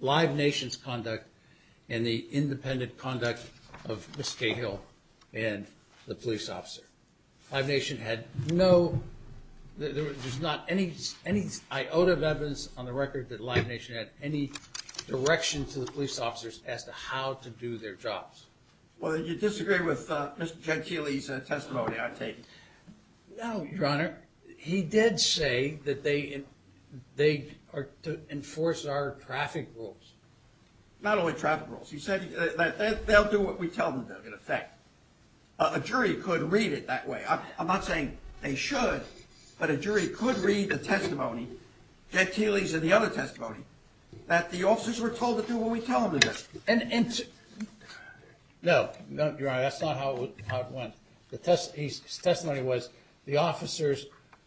Live Nation's conduct and the independent conduct of Ms. Cahill and the police officer. Live Nation had no... There's not any iota of evidence on the record that Live Nation had any direction to the police officers as to how to do their jobs. Well, then you disagree with Mr. Gentile's testimony, I take it? No, Your Honor. He did say that they are to enforce our traffic rules. Not only traffic rules. He said that they'll do what we tell them to, in effect. A jury could read it that way. I'm not saying they should, but a jury could read the testimony, Gentile's and the other testimony, that the officers were told to do what we tell them to do. No, Your Honor, that's not how it went. His testimony was, the officers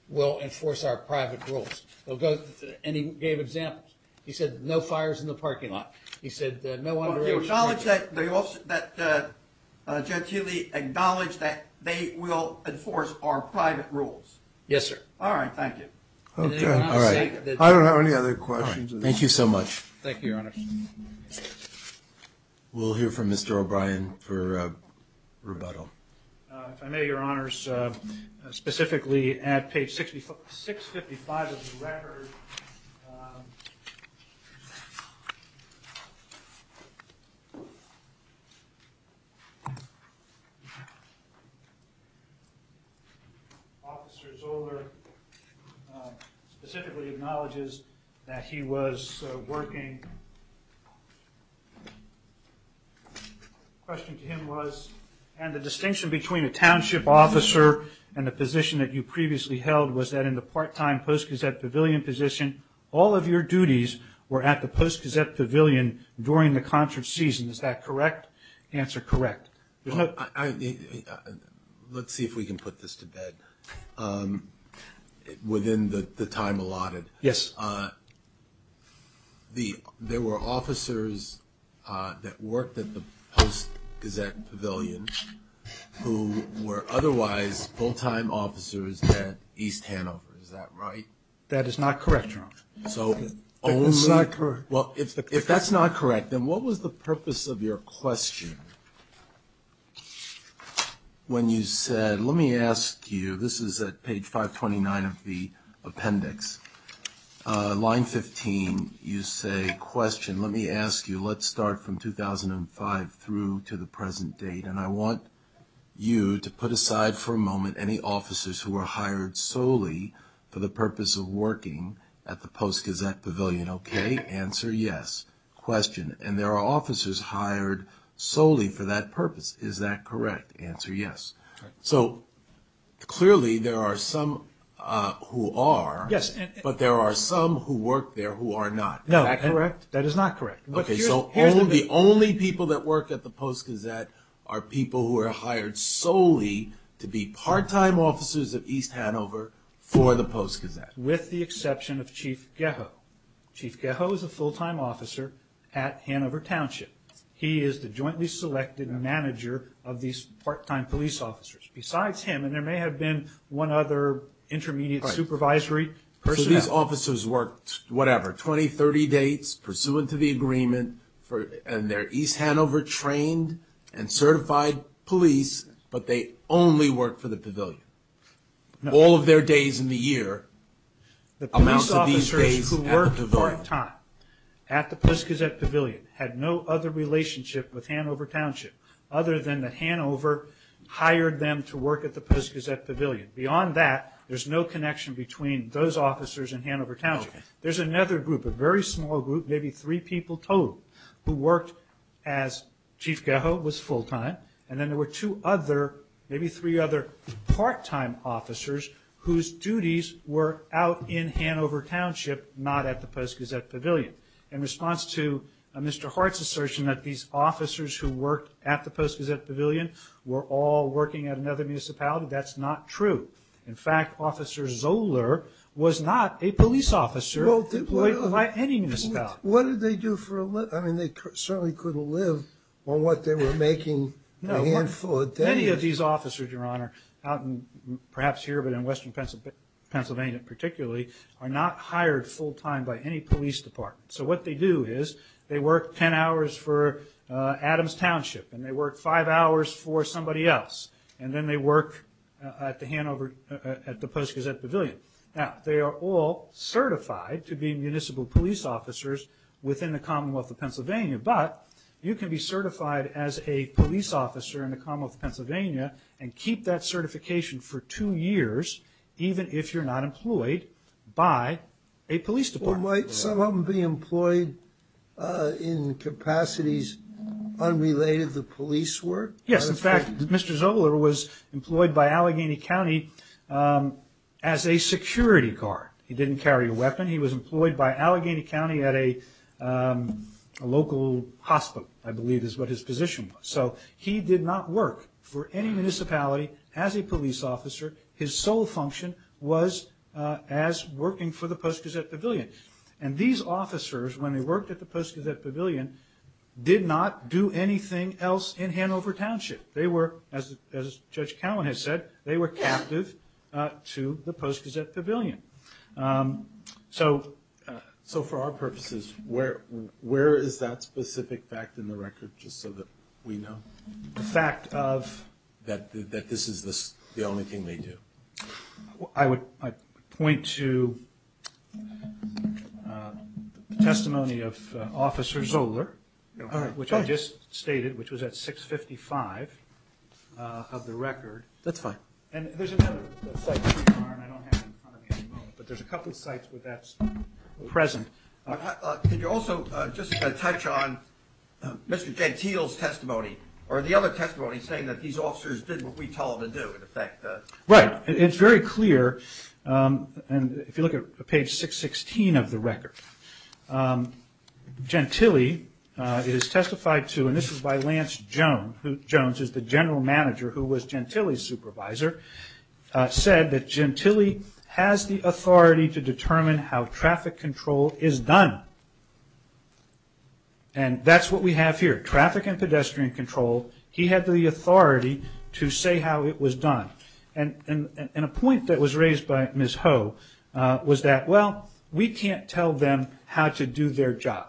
will enforce our private rules. And he gave examples. He said, no fires in the parking lot. He said, no underage... Well, do you acknowledge that Gentile acknowledged that they will enforce our private rules? Yes, sir. All right, thank you. I don't have any other questions. Thank you so much. Thank you, Your Honor. We'll hear from Mr. O'Brien for rebuttal. If I may, Your Honors, specifically at page 655 of the record, um... Officer Zoller specifically acknowledges that he was working... The question to him was, and the distinction between a township officer and the position that you previously held was that in the part-time Post Gazette Pavilion position, all of your duties were at the Post Gazette Pavilion during the concert season. Is that correct? Answer, correct. Let's see if we can put this to bed. Within the time allotted. Yes. There were officers that worked at the Post Gazette Pavilion who were otherwise full-time officers at East Hanover. Is that right? That is not correct, Your Honor. So only... That is not correct. Well, if that's not correct, then what was the purpose of your question when you said, let me ask you, this is at page 529 of the appendix, line 15, you say, question, let me ask you, let's start from 2005 through to the present date, and I want you to put aside for a moment any officers who were hired solely for the purpose of working at the Post Gazette Pavilion. Okay? Answer, yes. Question, and there are officers hired solely for that purpose. Is that correct? Answer, yes. So clearly there are some who are, but there are some who work there who are not. Is that correct? No, that is not correct. Okay, so the only people that work at the Post Gazette are people who are hired solely to be part-time officers of East Hanover for the Post Gazette. With the exception of Chief Gehoe. Chief Gehoe is a full-time officer at Hanover Township. He is the jointly selected manager of these part-time police officers. Besides him, and there may have been one other intermediate supervisory personnel. So these officers worked, whatever, 20, 30 dates, pursuant to the agreement, and they're East Hanover trained and certified police, but they only worked for the pavilion. All of their days in the year amounts to these days at the pavilion. The police officers who worked part-time at the Post Gazette Pavilion had no other relationship with Hanover Township other than that Hanover hired them to work at the Post Gazette Pavilion. Beyond that, there's no connection between those officers and Hanover Township. There's another group, a very small group, maybe three people total, who worked as... Chief Gehoe was full-time, and then there were two other, maybe three other part-time officers whose duties were out in Hanover Township, not at the Post Gazette Pavilion. In response to Mr. Hart's assertion that these officers who worked at the Post Gazette Pavilion were all working at another municipality, that's not true. In fact, Officer Zoeller was not a police officer employed by any municipality. What did they do for a living? They certainly couldn't live on what they were making a handful of days. Any of these officers, Your Honor, perhaps here but in western Pennsylvania particularly, are not hired full-time by any police department. So what they do is they work ten hours for Adams Township and they work five hours for somebody else, and then they work at the Post Gazette Pavilion. Now, they are all certified to be municipal police officers within the Commonwealth of Pennsylvania, but you can be certified as a police officer in the Commonwealth of Pennsylvania and keep that certification for two years even if you're not employed by a police department. Well, might some of them be employed in capacities unrelated to police work? Yes, in fact, Mr. Zoeller was employed by Allegheny County as a security guard. He didn't carry a weapon. He was employed by Allegheny County at a local hospital, I believe is what his position was. So he did not work for any municipality as a police officer. His sole function was as working for the Post Gazette Pavilion. And these officers, when they worked at the Post Gazette Pavilion, did not do anything else in Hanover Township. They were, as Judge Cowan has said, they were captive to the Post Gazette Pavilion. So for our purposes, where is that specific fact in the record just so that we know? The fact of? That this is the only thing they do. I would point to the testimony of Officer Zoeller, which I just stated, which was at 655 of the record. That's fine. And there's another site where you are, and I don't have it in front of me at the moment, but there's a couple of sites where that's present. Could you also just touch on Mr. Gentile's testimony or the other testimony saying that these officers did what we told them to do, in effect? Right. It's very clear, and if you look at page 616 of the record, Gentile is testified to, and this is by Lance Jones, who is the general manager who was Gentile's supervisor, said that Gentile has the authority to determine how traffic control is done. And that's what we have here. Traffic and pedestrian control, he had the authority to say how it was done. And a point that was raised by Ms. Ho was that, well, we can't tell them how to do their job.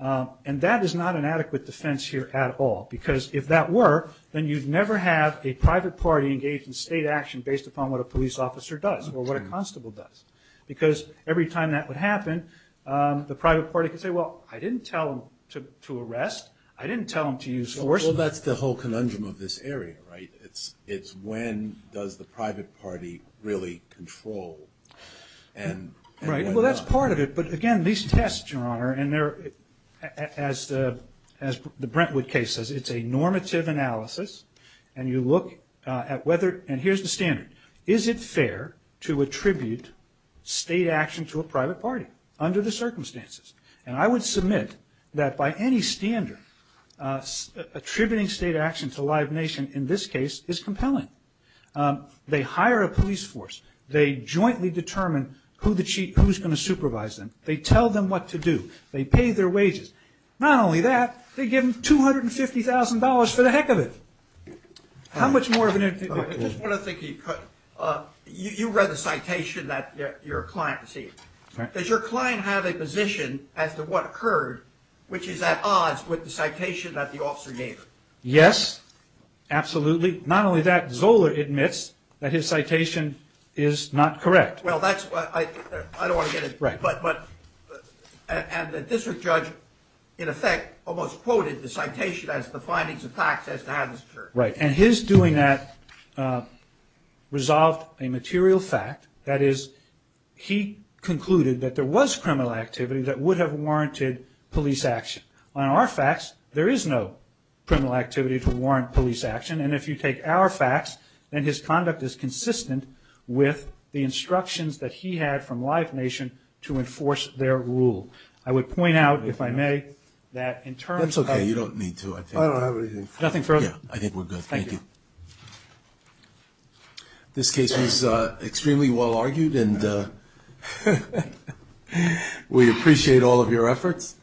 And that is not an adequate defense here at all, because if that were, then you'd never have a private party engage in state action based upon what a police officer does or what a constable does, because every time that would happen, the private party could say, well, I didn't tell them to arrest. I didn't tell them to use force. Well, that's the whole conundrum of this area, right? It's when does the private party really control Right, well, that's part of it. But again, these tests, Your Honor, and as the Brentwood case says, it's a normative analysis, and you look at whether, and here's the standard. Is it fair to attribute state action to a private party under the circumstances? And I would submit that by any standard, attributing state action to Live Nation in this case is compelling. They hire a police force. They jointly determine who's going to supervise them. They tell them what to do. They pay their wages. Not only that, they give them $250,000 for the heck of it. How much more of an... I just want to think, you read the citation that your client received. Does your client have a position as to what occurred, which is at odds with the citation that the officer gave? Yes, absolutely. Not only that, Zoller admits that his citation is not correct. Well, I don't want to get into... And the district judge, in effect, almost quoted the citation as the findings of facts as to how this occurred. Right, and his doing that resolved a material fact. That is, he concluded that there was criminal activity that would have warranted police action. On our facts, there is no criminal activity to warrant police action, and if you take our facts, then his conduct is consistent with the instructions that he had from Live Nation to enforce their rule. I would point out, if I may, that in terms of... That's okay, you don't need to. I don't have anything further. Nothing further? Yeah, I think we're good. Thank you. This case was extremely well-argued, and we appreciate all of your efforts.